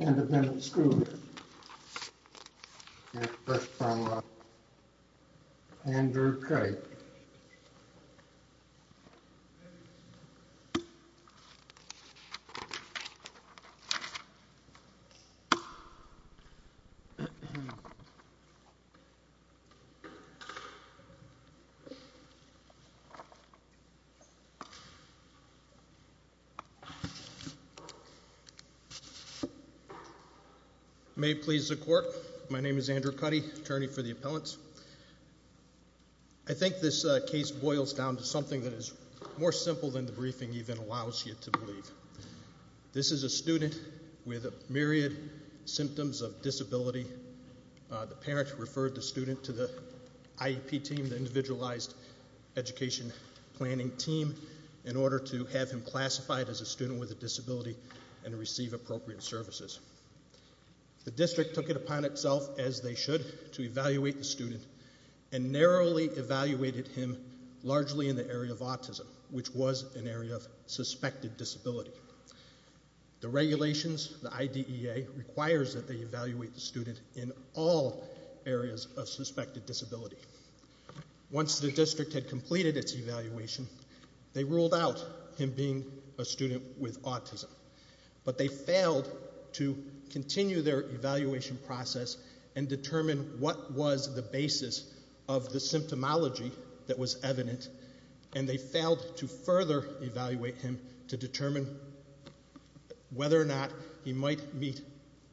Dr. Andrew Craig May it please the court. My name is Andrew Cuddy, attorney for the appellants. I think this case boils down to something that is more simple than the briefing even allows you to believe. This is a student with myriad symptoms of disability. The parent referred the student to the IEP team, the Individualized Education Planning team, in order to have him classified as a student with a disability and receive appropriate services. The district took it upon itself, as they should, to evaluate the student and narrowly evaluated him largely in the area of autism, which was an area of suspected disability. The regulations, the IDEA, requires that they evaluate the student in all areas of suspected disability. Once the district had completed its evaluation, they ruled out him being a student with autism. But they failed to continue their evaluation process and determine what was the basis of the symptomology that was evident. And they failed to further evaluate him to determine whether or not he might meet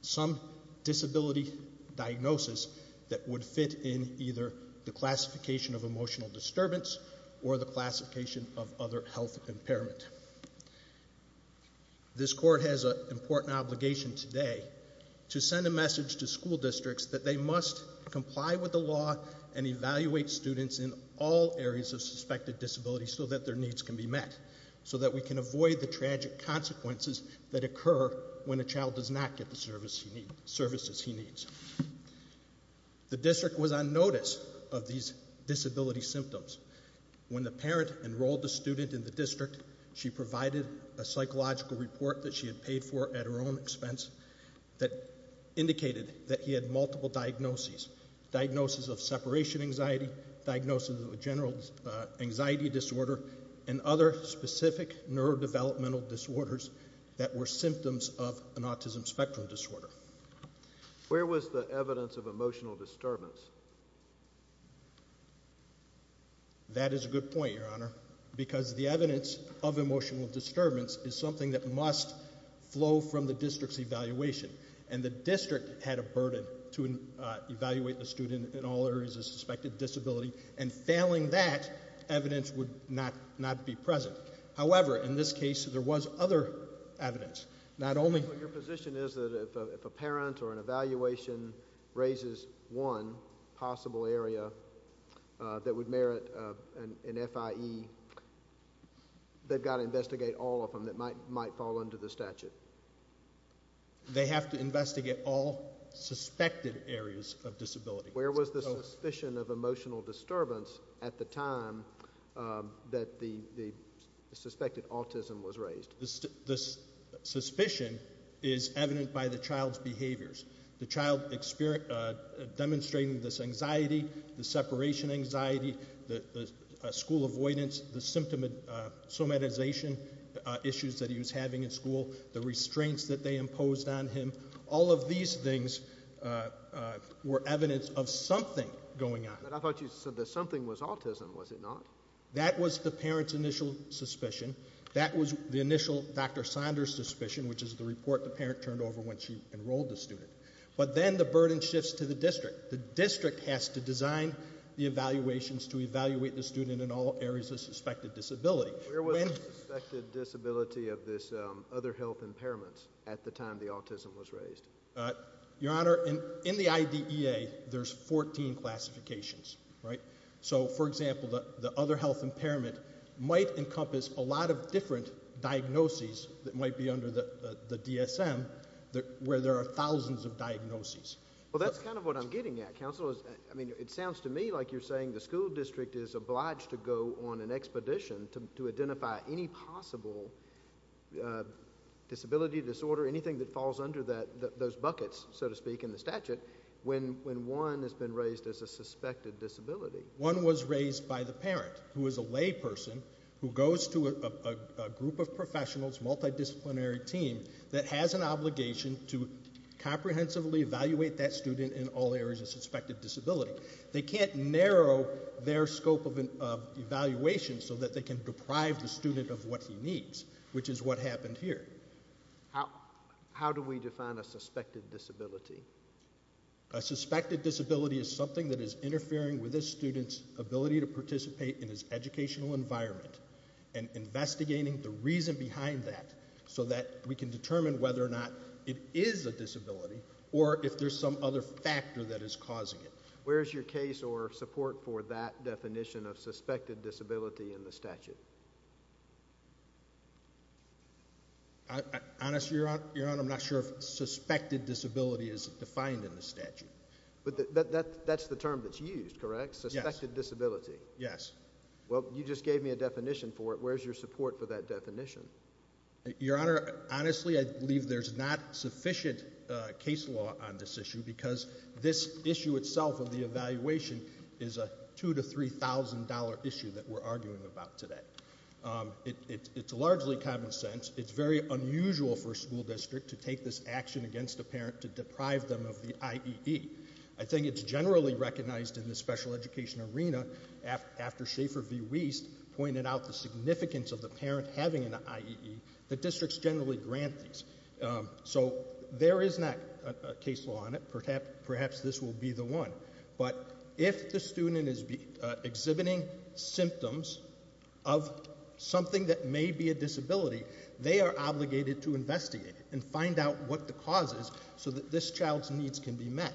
some disability diagnosis that would fit in either the classification of emotional disturbance or the classification of other health impairment. This court has an important obligation today to send a message to school districts that they must comply with the law and evaluate students in all areas of suspected disability so that their needs can be met, so that we can avoid the tragic consequences that occur when a child does not get the services he needs. The district was on notice of these disability symptoms. When the parent enrolled the student in the district, she provided a psychological report that she had paid for at her own expense that indicated that he had multiple diagnoses. Diagnosis of separation anxiety, diagnosis of a general anxiety disorder, and other specific neurodevelopmental disorders that were symptoms of an autism spectrum disorder. Where was the evidence of emotional disturbance? That is a good point, Your Honor, because the evidence of emotional disturbance is something that must flow from the district's evaluation. And the district had a burden to evaluate the student in all areas of suspected disability. And failing that, evidence would not be present. However, in this case, there was other evidence. Your position is that if a parent or an evaluation raises one possible area that would merit an FIE, they've got to investigate all of them that might fall under the statute. They have to investigate all suspected areas of disability. Where was the suspicion of emotional disturbance at the time that the suspected autism was raised? The suspicion is evident by the child's behaviors. The child demonstrated this anxiety, the separation anxiety, the school avoidance, the symptom somatization issues that he was having in school, the restraints that they imposed on him. All of these things were evidence of something going on. But I thought you said that something was autism, was it not? That was the parent's initial suspicion. That was the initial Dr. Saunders' suspicion, which is the report the parent turned over when she enrolled the student. But then the burden shifts to the district. The district has to design the evaluations to evaluate the student in all areas of suspected disability. Where was the suspected disability of this other health impairment at the time the autism was raised? Your Honor, in the IDEA, there's 14 classifications. So, for example, the other health impairment might encompass a lot of different diagnoses that might be under the DSM where there are thousands of diagnoses. Well, that's kind of what I'm getting at, Counselor. I mean, it sounds to me like you're saying the school district is obliged to go on an expedition to identify any possible disability, disorder, anything that falls under those buckets, so to speak, in the statute, when one has been raised as a suspected disability. One was raised by the parent, who is a layperson, who goes to a group of professionals, multidisciplinary team, that has an obligation to comprehensively evaluate that student in all areas of suspected disability. They can't narrow their scope of evaluation so that they can deprive the student of what he needs, which is what happened here. How do we define a suspected disability? A suspected disability is something that is interfering with a student's ability to participate in his educational environment and investigating the reason behind that so that we can determine whether or not it is a disability or if there's some other factor that is causing it. Where is your case or support for that definition of suspected disability in the statute? Honestly, Your Honor, I'm not sure if suspected disability is defined in the statute. But that's the term that's used, correct? Yes. Suspected disability. Yes. Well, you just gave me a definition for it. Where's your support for that definition? Your Honor, honestly, I believe there's not sufficient case law on this issue because this issue itself of the evaluation is a $2,000 to $3,000 issue that we're arguing about today. It's largely common sense. It's very unusual for a school district to take this action against a parent to deprive them of the IEE. I think it's generally recognized in the special education arena after Schaefer v. Wiest pointed out the significance of the parent having an IEE. The districts generally grant these. So there is not a case law on it. Perhaps this will be the one. But if the student is exhibiting symptoms of something that may be a disability, they are obligated to investigate and find out what the cause is so that this child's needs can be met.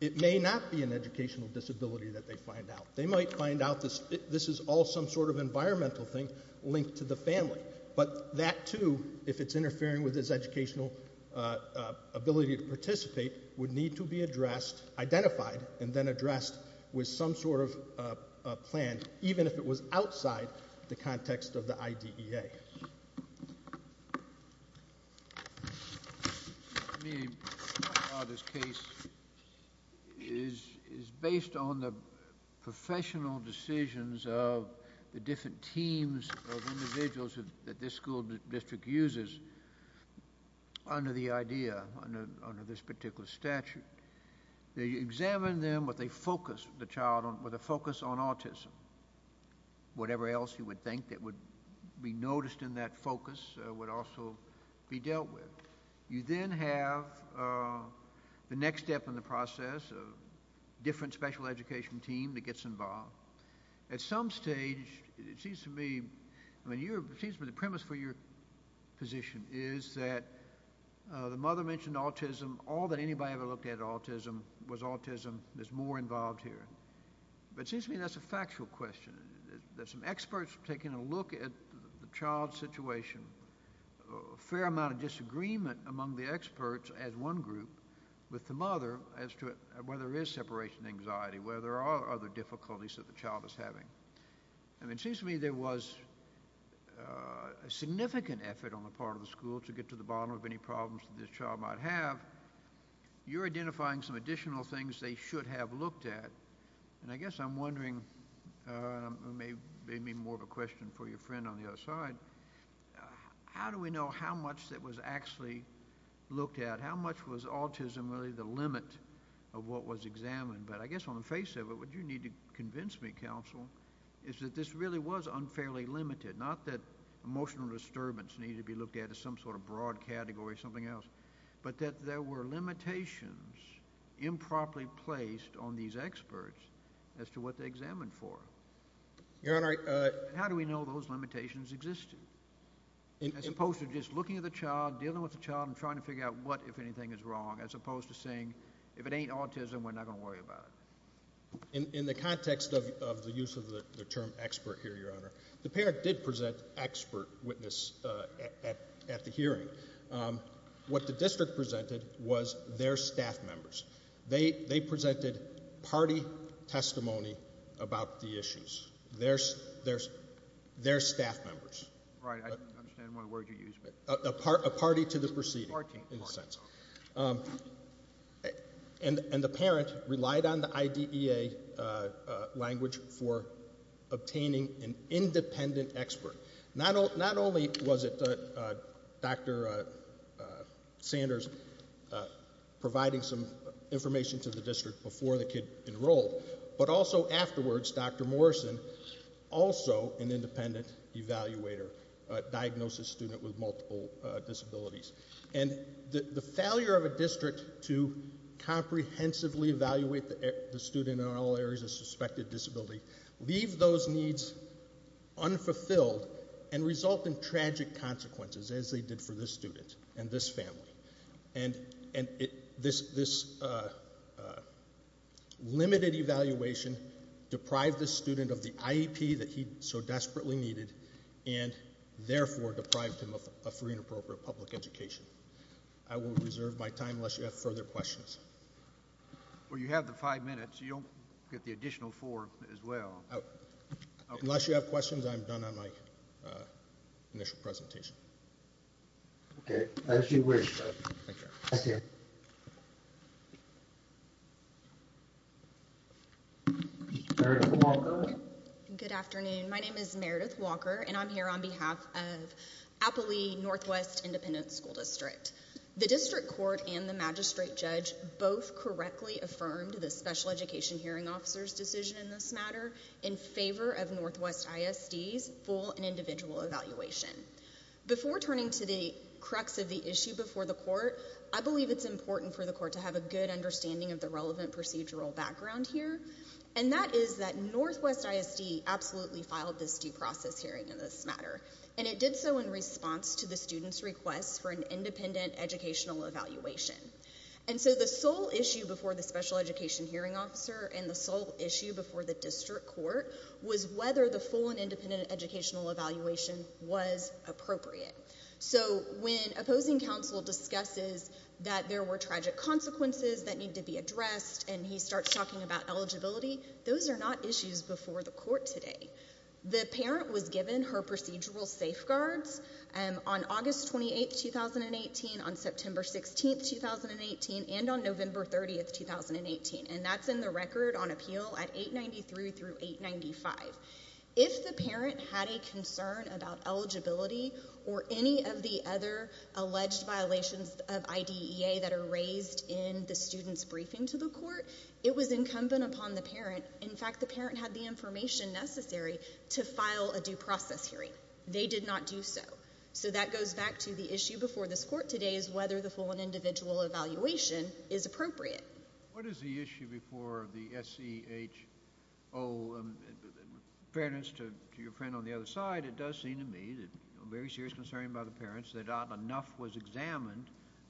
It may not be an educational disability that they find out. They might find out this is all some sort of environmental thing linked to the family. But that, too, if it's interfering with his educational ability to participate, would need to be addressed, identified, and then addressed with some sort of plan, even if it was outside the context of the IDEA. For me, this case is based on the professional decisions of the different teams of individuals that this school district uses under the idea, under this particular statute. They examine them with a focus on autism. Whatever else you would think that would be noticed in that focus would also be dealt with. You then have the next step in the process, a different special education team that gets involved. At some stage, it seems to me, the premise for your position is that the mother mentioned autism, all that anybody ever looked at autism was autism. There's more involved here. But it seems to me that's a factual question. There's some experts taking a look at the child's situation, a fair amount of disagreement among the experts as one group with the mother as to whether there is separation anxiety, whether there are other difficulties that the child is having. It seems to me there was a significant effort on the part of the school to get to the bottom of any problems that this child might have. You're identifying some additional things they should have looked at. And I guess I'm wondering, maybe more of a question for your friend on the other side, how do we know how much that was actually looked at? How much was autism really the limit of what was examined? But I guess on the face of it, what you need to convince me, counsel, is that this really was unfairly limited, not that emotional disturbance needed to be looked at as some sort of broad category or something else, but that there were limitations improperly placed on these experts as to what they examined for. Your Honor. How do we know those limitations existed? As opposed to just looking at the child, dealing with the child, and trying to figure out what, if anything, is wrong, as opposed to saying if it ain't autism, we're not going to worry about it. In the context of the use of the term expert here, Your Honor, the parent did present expert witness at the hearing. What the district presented was their staff members. They presented party testimony about the issues, their staff members. Right. I don't understand what word you used. A party to the proceeding, in a sense. And the parent relied on the IDEA language for obtaining an independent expert. Not only was it Dr. Sanders providing some information to the district before the kid enrolled, but also afterwards, Dr. Morrison, also an independent evaluator, a diagnosis student with multiple disabilities. And the failure of a district to comprehensively evaluate the student in all areas of suspected disability leave those needs unfulfilled and result in tragic consequences, as they did for this student and this family. And this limited evaluation deprived the student of the IEP that he so desperately needed and therefore deprived him of a free and appropriate public education. I will reserve my time unless you have further questions. Well, you have the five minutes. You don't get the additional four as well. Unless you have questions, I'm done on my initial presentation. Okay. As you wish. Thank you. Thank you. Meredith Walker. Good afternoon. My name is Meredith Walker, and I'm here on behalf of Appley Northwest Independent School District. The district court and the magistrate judge both correctly affirmed the special education hearing officer's decision in this matter in favor of Northwest ISD's full and individual evaluation. Before turning to the crux of the issue before the court, I believe it's important for the court to have a good understanding of the relevant procedural background here, and that is that Northwest ISD absolutely filed this due process hearing in this matter, and it did so in response to the student's request for an independent educational evaluation. And so the sole issue before the special education hearing officer and the sole issue before the district court was whether the full and independent educational evaluation was appropriate. So when opposing counsel discusses that there were tragic consequences that need to be addressed and he starts talking about eligibility, those are not issues before the court today. The parent was given her procedural safeguards on August 28, 2018, on September 16, 2018, and on November 30, 2018, and that's in the record on appeal at 893 through 895. If the parent had a concern about eligibility or any of the other alleged violations of IDEA that are raised in the student's briefing to the court, it was incumbent upon the parent. In fact, the parent had the information necessary to file a due process hearing. They did not do so. So that goes back to the issue before this court today is whether the full and individual evaluation is appropriate. What is the issue before the SEHO? Fairness to your friend on the other side, it does seem to me a very serious concern by the parents that not enough was examined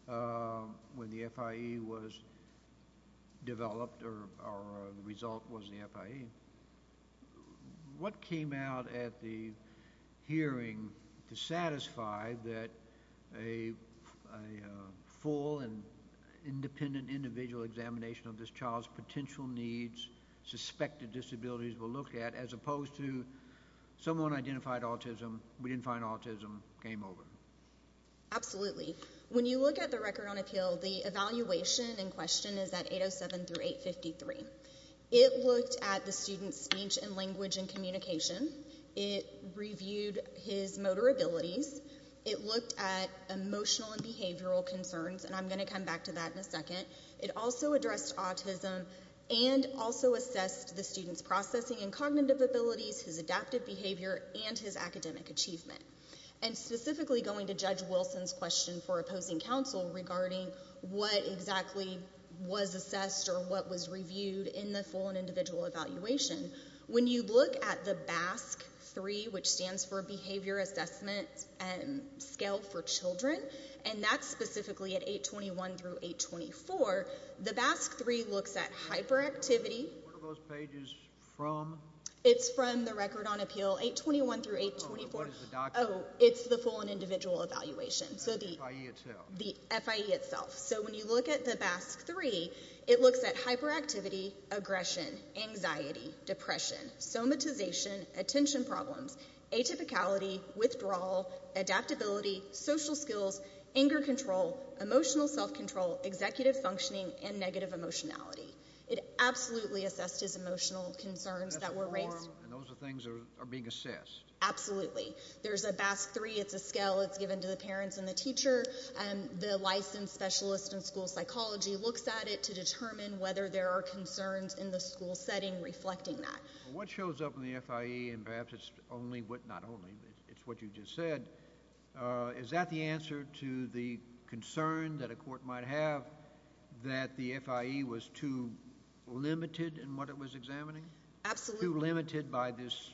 when the FIE was developed or the result was the FIE. What came out at the hearing to satisfy that a full and independent individual examination of this child's potential needs, suspected disabilities, were looked at as opposed to someone identified autism, we didn't find autism, game over? Absolutely. When you look at the record on appeal, the evaluation in question is at 807 through 853. It looked at the student's speech and language and communication. It reviewed his motor abilities. It looked at emotional and behavioral concerns, and I'm going to come back to that in a second. It also addressed autism and also assessed the student's processing and cognitive abilities, his adaptive behavior, and his academic achievement. And specifically going to Judge Wilson's question for opposing counsel regarding what exactly was assessed or what was reviewed in the full and individual evaluation, when you look at the BASC-3, which stands for Behavior Assessment Scale for Children, and that's specifically at 821 through 824, the BASC-3 looks at hyperactivity. What are those pages from? It's from the record on appeal, 821 through 824. What is the document? It's the full and individual evaluation. The FIE itself? The FIE itself. So when you look at the BASC-3, it looks at hyperactivity, aggression, anxiety, depression, somatization, attention problems, atypicality, withdrawal, adaptability, social skills, anger control, emotional self-control, executive functioning, and negative emotionality. It absolutely assessed his emotional concerns that were raised. And those are things that are being assessed? Absolutely. There's a BASC-3. It's a scale that's given to the parents and the teacher. The licensed specialist in school psychology looks at it to determine whether there are concerns in the school setting reflecting that. What shows up in the FIE, and perhaps it's only what you just said, is that the answer to the concern that a court might have that the FIE was too limited in what it was examining? Absolutely. Too limited by this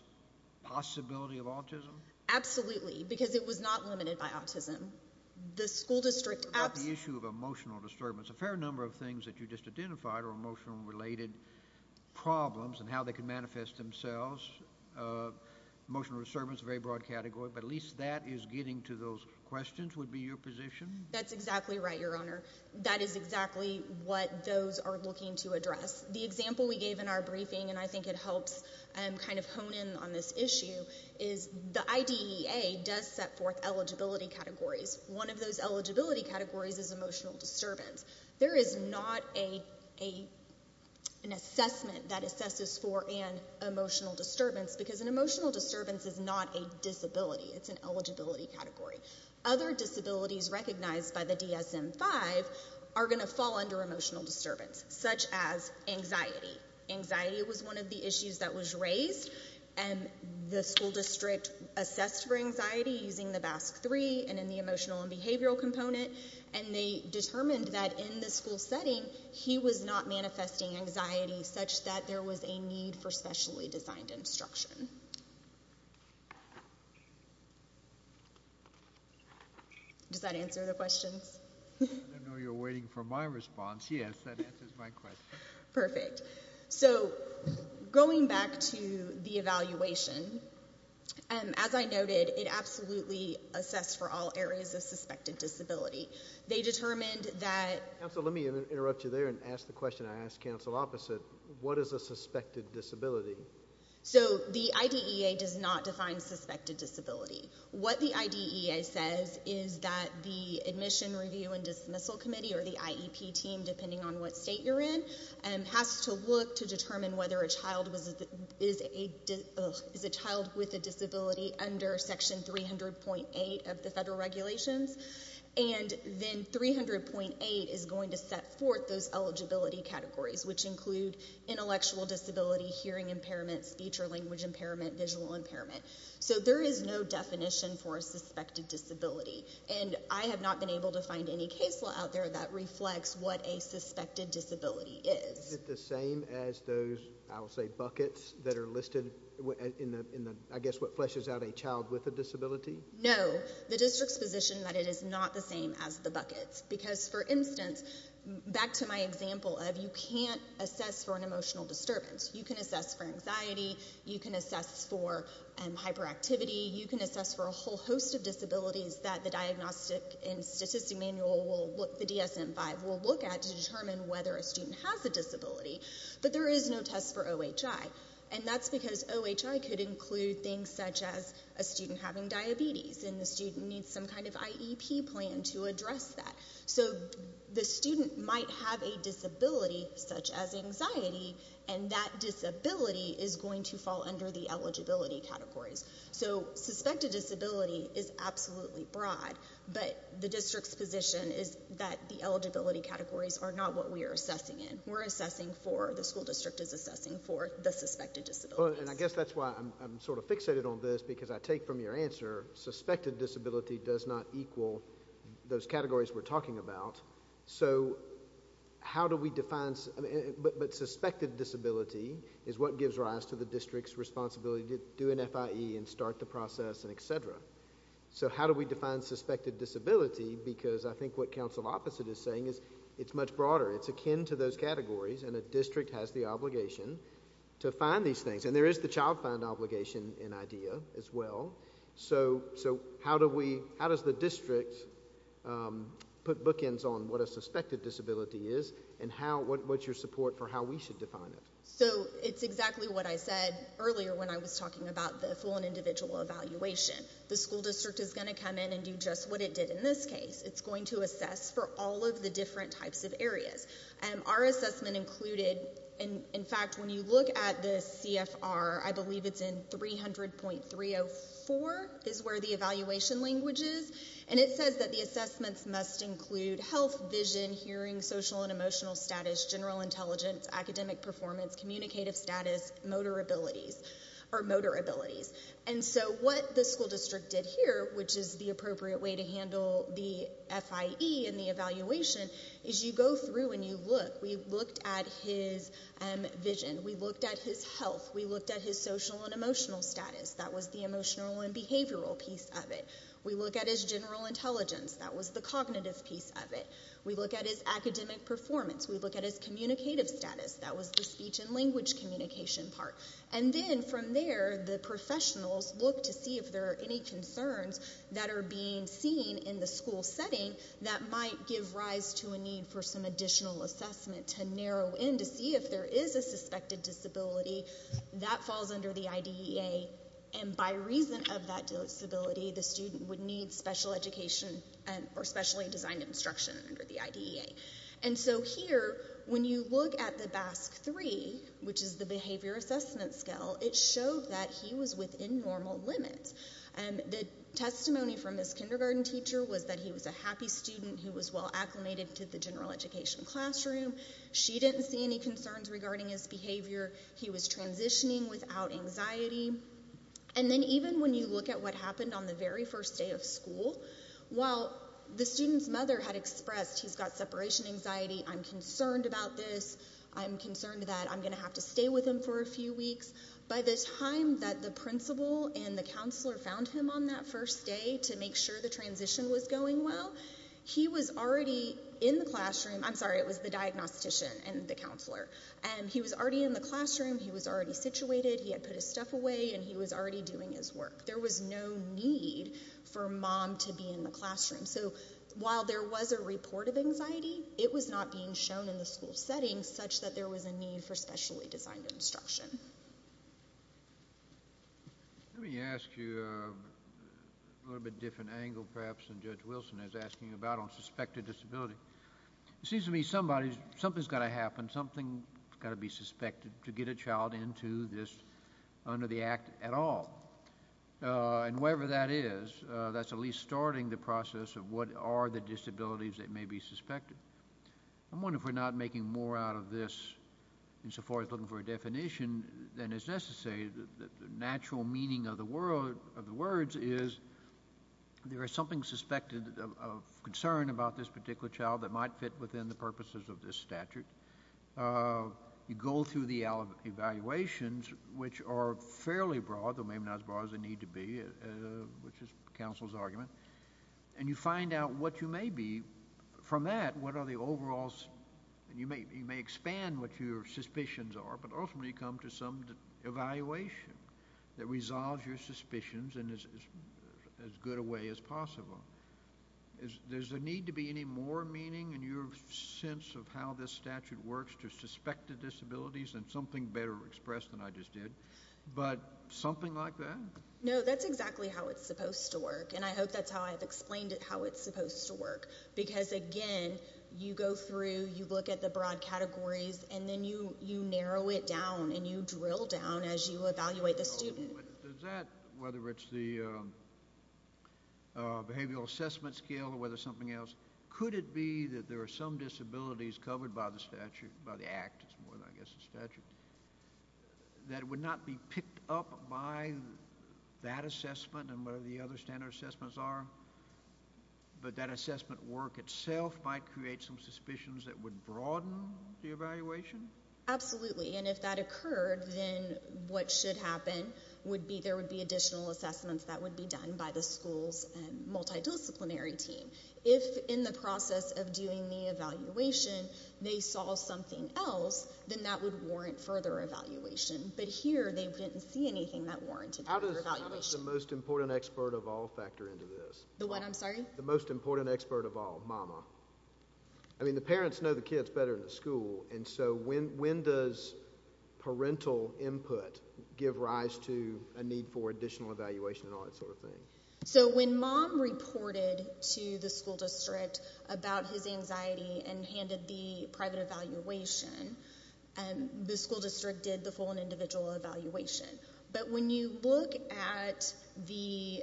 possibility of autism? Absolutely, because it was not limited by autism. The school district absolutely— About the issue of emotional disturbance. A fair number of things that you just identified are emotional-related problems and how they can manifest themselves. Emotional disturbance is a very broad category, but at least that is getting to those questions would be your position? That's exactly right, Your Honor. That is exactly what those are looking to address. The example we gave in our briefing, and I think it helps kind of hone in on this issue, is the IDEA does set forth eligibility categories. One of those eligibility categories is emotional disturbance. There is not an assessment that assesses for an emotional disturbance because an emotional disturbance is not a disability. It's an eligibility category. Other disabilities recognized by the DSM-5 are going to fall under emotional disturbance, such as anxiety. The school district assessed for anxiety using the BASC-3 and in the emotional and behavioral component, and they determined that in the school setting, he was not manifesting anxiety such that there was a need for specially designed instruction. Does that answer the questions? I know you're waiting for my response. Yes, that answers my question. Perfect. So going back to the evaluation, as I noted, it absolutely assessed for all areas of suspected disability. They determined that... Counsel, let me interrupt you there and ask the question I asked counsel opposite. What is a suspected disability? So the IDEA does not define suspected disability. What the IDEA says is that the Admission Review and Dismissal Committee, or the IEP team, depending on what state you're in, has to look to determine whether a child is a child with a disability under section 300.8 of the federal regulations. And then 300.8 is going to set forth those eligibility categories, which include intellectual disability, hearing impairment, speech or language impairment, visual impairment. So there is no definition for a suspected disability. And I have not been able to find any case law out there that reflects what a suspected disability is. Is it the same as those, I will say, buckets that are listed in the, I guess, what fleshes out a child with a disability? No. The district's position that it is not the same as the buckets. Because, for instance, back to my example of you can't assess for an emotional disturbance. You can assess for anxiety. You can assess for hyperactivity. You can assess for a whole host of disabilities that the Diagnostic and Statistic Manual, the DSM-5, will look at to determine whether a student has a disability. But there is no test for OHI. And that's because OHI could include things such as a student having diabetes and the student needs some kind of IEP plan to address that. So the student might have a disability, such as anxiety, and that disability is going to fall under the eligibility categories. So suspected disability is absolutely broad, but the district's position is that the eligibility categories are not what we are assessing in. We're assessing for, the school district is assessing for, the suspected disabilities. And I guess that's why I'm sort of fixated on this, because I take from your answer, suspected disability does not equal those categories we're talking about. So how do we define, but suspected disability is what gives rise to the district's responsibility to do an FIE and start the process and et cetera. So how do we define suspected disability? Because I think what Council Opposite is saying is it's much broader. It's akin to those categories, and a district has the obligation to find these things. And there is the child find obligation in IDEA as well. So how does the district put bookends on what a suspected disability is and what's your support for how we should define it? So it's exactly what I said earlier when I was talking about the full and individual evaluation. The school district is going to come in and do just what it did in this case. It's going to assess for all of the different types of areas. Our assessment included, in fact, when you look at the CFR, I believe it's in 300.304 is where the evaluation language is. And it says that the assessments must include health, vision, hearing, social and emotional status, general intelligence, academic performance, communicative status, motor abilities. And so what the school district did here, which is the appropriate way to handle the FIE and the evaluation, is you go through and you look. We looked at his vision. We looked at his health. We looked at his social and emotional status. That was the emotional and behavioral piece of it. We look at his general intelligence. That was the cognitive piece of it. We look at his academic performance. We look at his communicative status. That was the speech and language communication part. And then from there, the professionals look to see if there are any concerns that are being seen in the school setting that might give rise to a need for some additional assessment to narrow in to see if there is a suspected disability. That falls under the IDEA. And by reason of that disability, the student would need special education or specially designed instruction under the IDEA. And so here, when you look at the BASC-3, which is the behavior assessment scale, it showed that he was within normal limits. The testimony from his kindergarten teacher was that he was a happy student who was well acclimated to the general education classroom. She didn't see any concerns regarding his behavior. He was transitioning without anxiety. And then even when you look at what happened on the very first day of school, while the student's mother had expressed he's got separation anxiety, I'm concerned about this, I'm concerned that I'm going to have to stay with him for a few weeks, by the time that the principal and the counselor found him on that first day to make sure the transition was going well, he was already in the classroom. I'm sorry, it was the diagnostician and the counselor. And he was already in the classroom. He was already situated. He had put his stuff away, and he was already doing his work. There was no need for mom to be in the classroom. So while there was a report of anxiety, it was not being shown in the school setting such that there was a need for specially designed instruction. Let me ask you a little bit different angle perhaps than Judge Wilson is asking about on suspected disability. It seems to me something's got to happen, something's got to be suspected to get a child into this under the Act at all. And whatever that is, that's at least starting the process of what are the disabilities that may be suspected. I wonder if we're not making more out of this insofar as looking for a definition than is necessary. The natural meaning of the words is there is something suspected of concern about this particular child that might fit within the purposes of this statute. You go through the evaluations, which are fairly broad, though maybe not as broad as they need to be, which is counsel's argument, and you find out what you may be from that. What are the overalls? You may expand what your suspicions are, but ultimately come to some evaluation that resolves your suspicions in as good a way as possible. Does there need to be any more meaning in your sense of how this statute works to suspected disabilities than something better expressed than I just did? But something like that? No, that's exactly how it's supposed to work, and I hope that's how I've explained how it's supposed to work because, again, you go through, you look at the broad categories, and then you narrow it down and you drill down as you evaluate the student. But does that, whether it's the behavioral assessment scale or whether it's something else, could it be that there are some disabilities covered by the statute, by the Act, it's more, I guess, the statute, that would not be picked up by that assessment and whatever the other standard assessments are, but that assessment work itself might create some suspicions that would broaden the evaluation? Absolutely, and if that occurred, then what should happen? There would be additional assessments that would be done by the school's multidisciplinary team. If, in the process of doing the evaluation, they saw something else, then that would warrant further evaluation. But here, they didn't see anything that warranted further evaluation. How does the most important expert of all factor into this? The what, I'm sorry? The most important expert of all, Mama. I mean, the parents know the kids better than the school, and so when does parental input give rise to a need for additional evaluation and all that sort of thing? So when Mom reported to the school district about his anxiety and handed the private evaluation, the school district did the full and individual evaluation. But when you look at the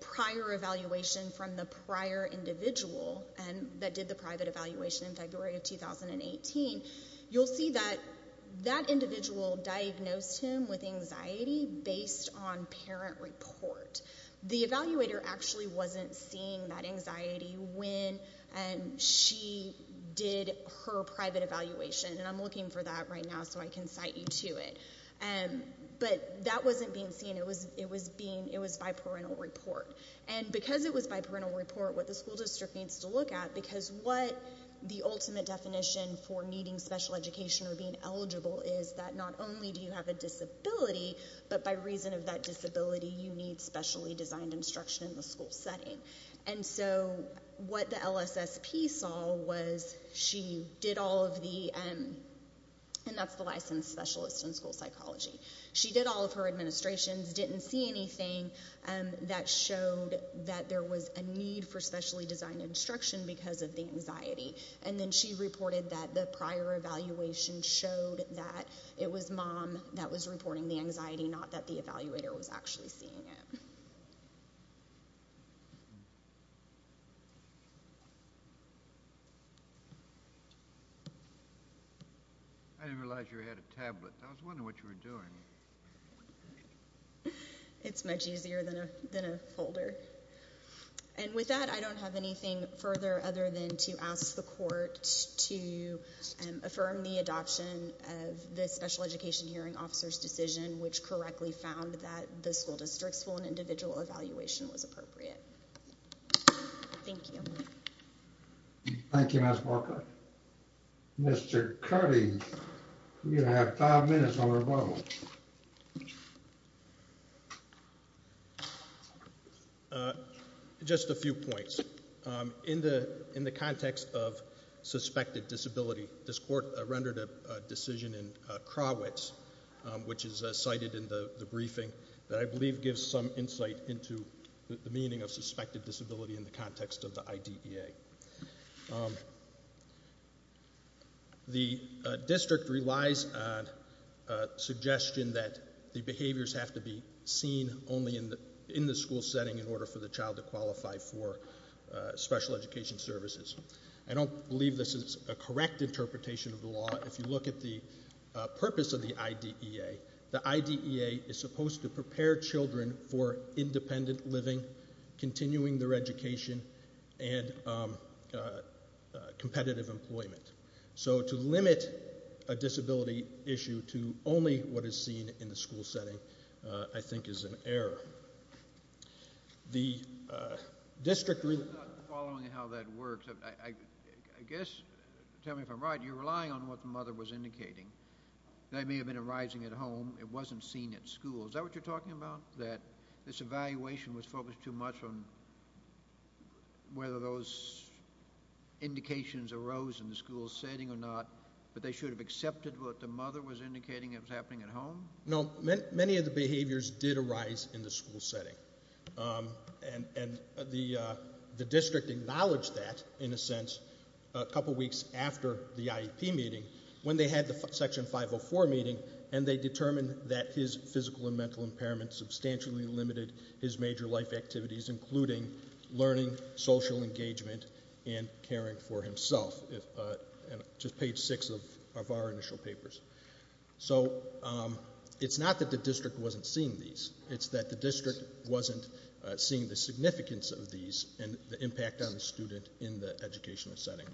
prior evaluation from the prior individual that did the private evaluation in February of 2018, you'll see that that individual diagnosed him with anxiety based on parent report. The evaluator actually wasn't seeing that anxiety when she did her private evaluation, and I'm looking for that right now so I can cite you to it. But that wasn't being seen. It was by parental report. And because it was by parental report, what the school district needs to look at, because what the ultimate definition for needing special education or being eligible is that not only do you have a disability, but by reason of that disability, you need specially designed instruction in the school setting. And so what the LSSP saw was she did all of the, and that's the licensed specialist in school psychology. She did all of her administrations, didn't see anything that showed that there was a need for specially designed instruction because of the anxiety. And then she reported that the prior evaluation showed that it was mom that was reporting the anxiety, not that the evaluator was actually seeing it. I didn't realize you had a tablet. I was wondering what you were doing. It's much easier than a folder. And with that, I don't have anything further other than to ask the court to affirm the adoption of the special education hearing officer's decision, which correctly found that the school district's full and individual evaluation was appropriate. Thank you. Thank you, Ms. Walker. Mr. Cuddy, you have five minutes on rebuttal. Just a few points. In the context of suspected disability, this court rendered a decision in Crowett's, which is cited in the briefing, that I believe gives some insight into the meaning of suspected disability in the context of the IDEA. The district relies on a suggestion that the behaviors have to be seen only in the school setting in order for the child to qualify for special education services. I don't believe this is a correct interpretation of the law. If you look at the purpose of the IDEA, the IDEA is supposed to prepare children for independent living, continuing their education, and competitive employment. So to limit a disability issue to only what is seen in the school setting, I think is an error. The district really ---- I'm not following how that works. I guess, tell me if I'm right, you're relying on what the mother was indicating. That may have been arising at home. It wasn't seen at school. Is that what you're talking about, that this evaluation was focused too much on whether those indications arose in the school setting or not, but they should have accepted what the mother was indicating was happening at home? No, many of the behaviors did arise in the school setting. And the district acknowledged that, in a sense, a couple weeks after the IEP meeting, when they had the Section 504 meeting, and they determined that his physical and mental impairment substantially limited his major life activities, including learning, social engagement, and caring for himself. Just page 6 of our initial papers. So it's not that the district wasn't seeing these. It's that the district wasn't seeing the significance of these and the impact on the student in the educational setting.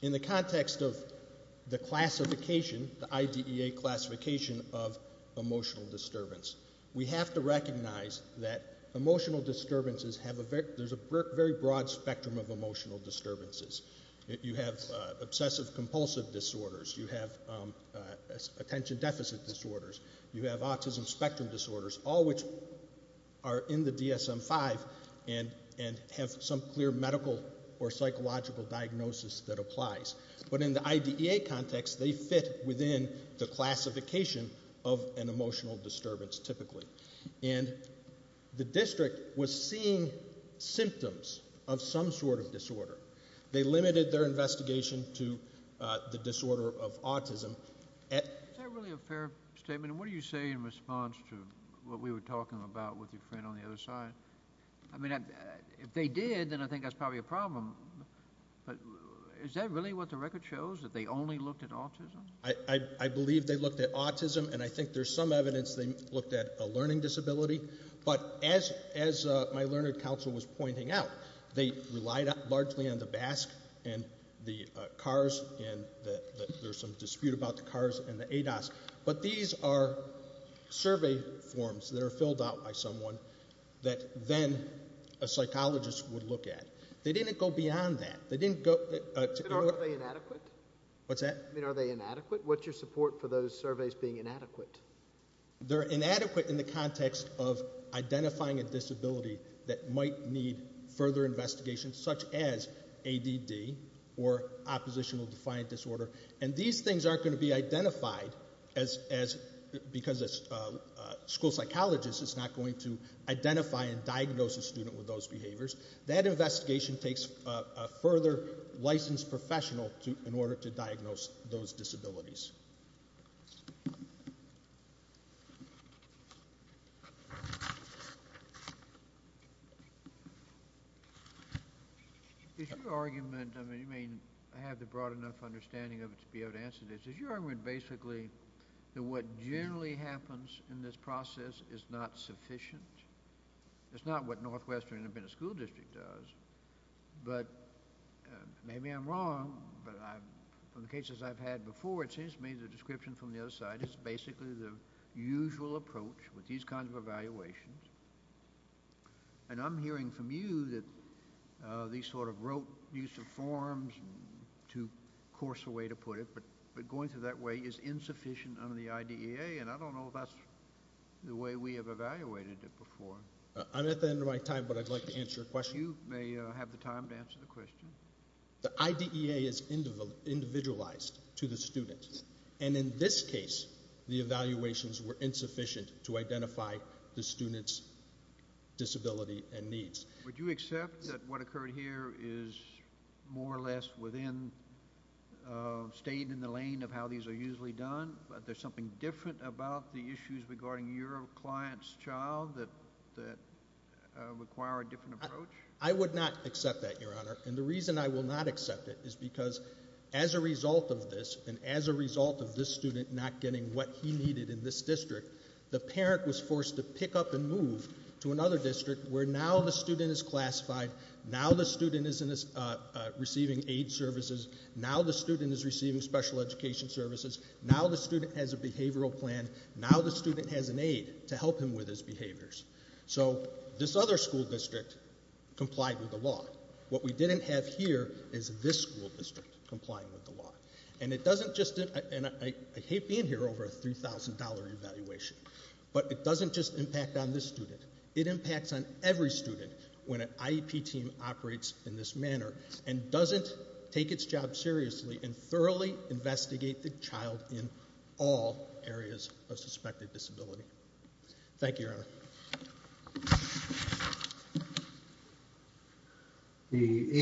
In the context of the classification, the IDEA classification of emotional disturbance, we have to recognize that emotional disturbances have a very broad spectrum of emotional disturbances. You have obsessive-compulsive disorders. You have attention deficit disorders. You have autism spectrum disorders, all which are in the DSM-5 and have some clear medical or psychological diagnosis that applies. But in the IDEA context, they fit within the classification of an emotional disturbance, typically. And the district was seeing symptoms of some sort of disorder. They limited their investigation to the disorder of autism. Is that really a fair statement? And what do you say in response to what we were talking about with your friend on the other side? I mean, if they did, then I think that's probably a problem. But is that really what the record shows, that they only looked at autism? I believe they looked at autism, and I think there's some evidence they looked at a learning disability. But as my learned counsel was pointing out, they relied largely on the BASC and the CARS, and there's some dispute about the CARS and the ADOS. But these are survey forms that are filled out by someone that then a psychologist would look at. They didn't go beyond that. Are they inadequate? What's that? I mean, are they inadequate? What's your support for those surveys being inadequate? They're inadequate in the context of identifying a disability that might need further investigation, such as ADD or oppositional defiant disorder. And these things aren't going to be identified because a school psychologist is not going to identify and diagnose a student with those behaviors. That investigation takes a further licensed professional in order to diagnose those disabilities. Is your argument, I mean, you may have the broad enough understanding of it to be able to answer this. Is your argument basically that what generally happens in this process is not sufficient? It's not what Northwestern Independent School District does. But maybe I'm wrong, but from the cases I've had before, it seems to me the description from the other side is basically the usual approach with these kinds of evaluations. And I'm hearing from you that these sort of rote use of forms, too coarse a way to put it, but going through that way is insufficient under the IDEA, and I don't know if that's the way we have evaluated it before. I'm at the end of my time, but I'd like to answer a question. You may have the time to answer the question. The IDEA is individualized to the student. And in this case, the evaluations were insufficient to identify the student's disability and needs. Would you accept that what occurred here is more or less within, stayed in the lane of how these are usually done, but there's something different about the issues regarding your client's child that require a different approach? I would not accept that, Your Honor. And the reason I will not accept it is because as a result of this, and as a result of this student not getting what he needed in this district, the parent was forced to pick up and move to another district where now the student is classified, now the student is receiving aid services, now the student is receiving special education services, now the student has a behavioral plan, now the student has an aide to help him with his behaviors. So this other school district complied with the law. What we didn't have here is this school district complying with the law. And it doesn't just, and I hate being here over a $3,000 evaluation, but it doesn't just impact on this student. It impacts on every student when an IEP team operates in this manner and doesn't take its job seriously and thoroughly investigate the child in all areas of suspected disability. Thank you, Your Honor.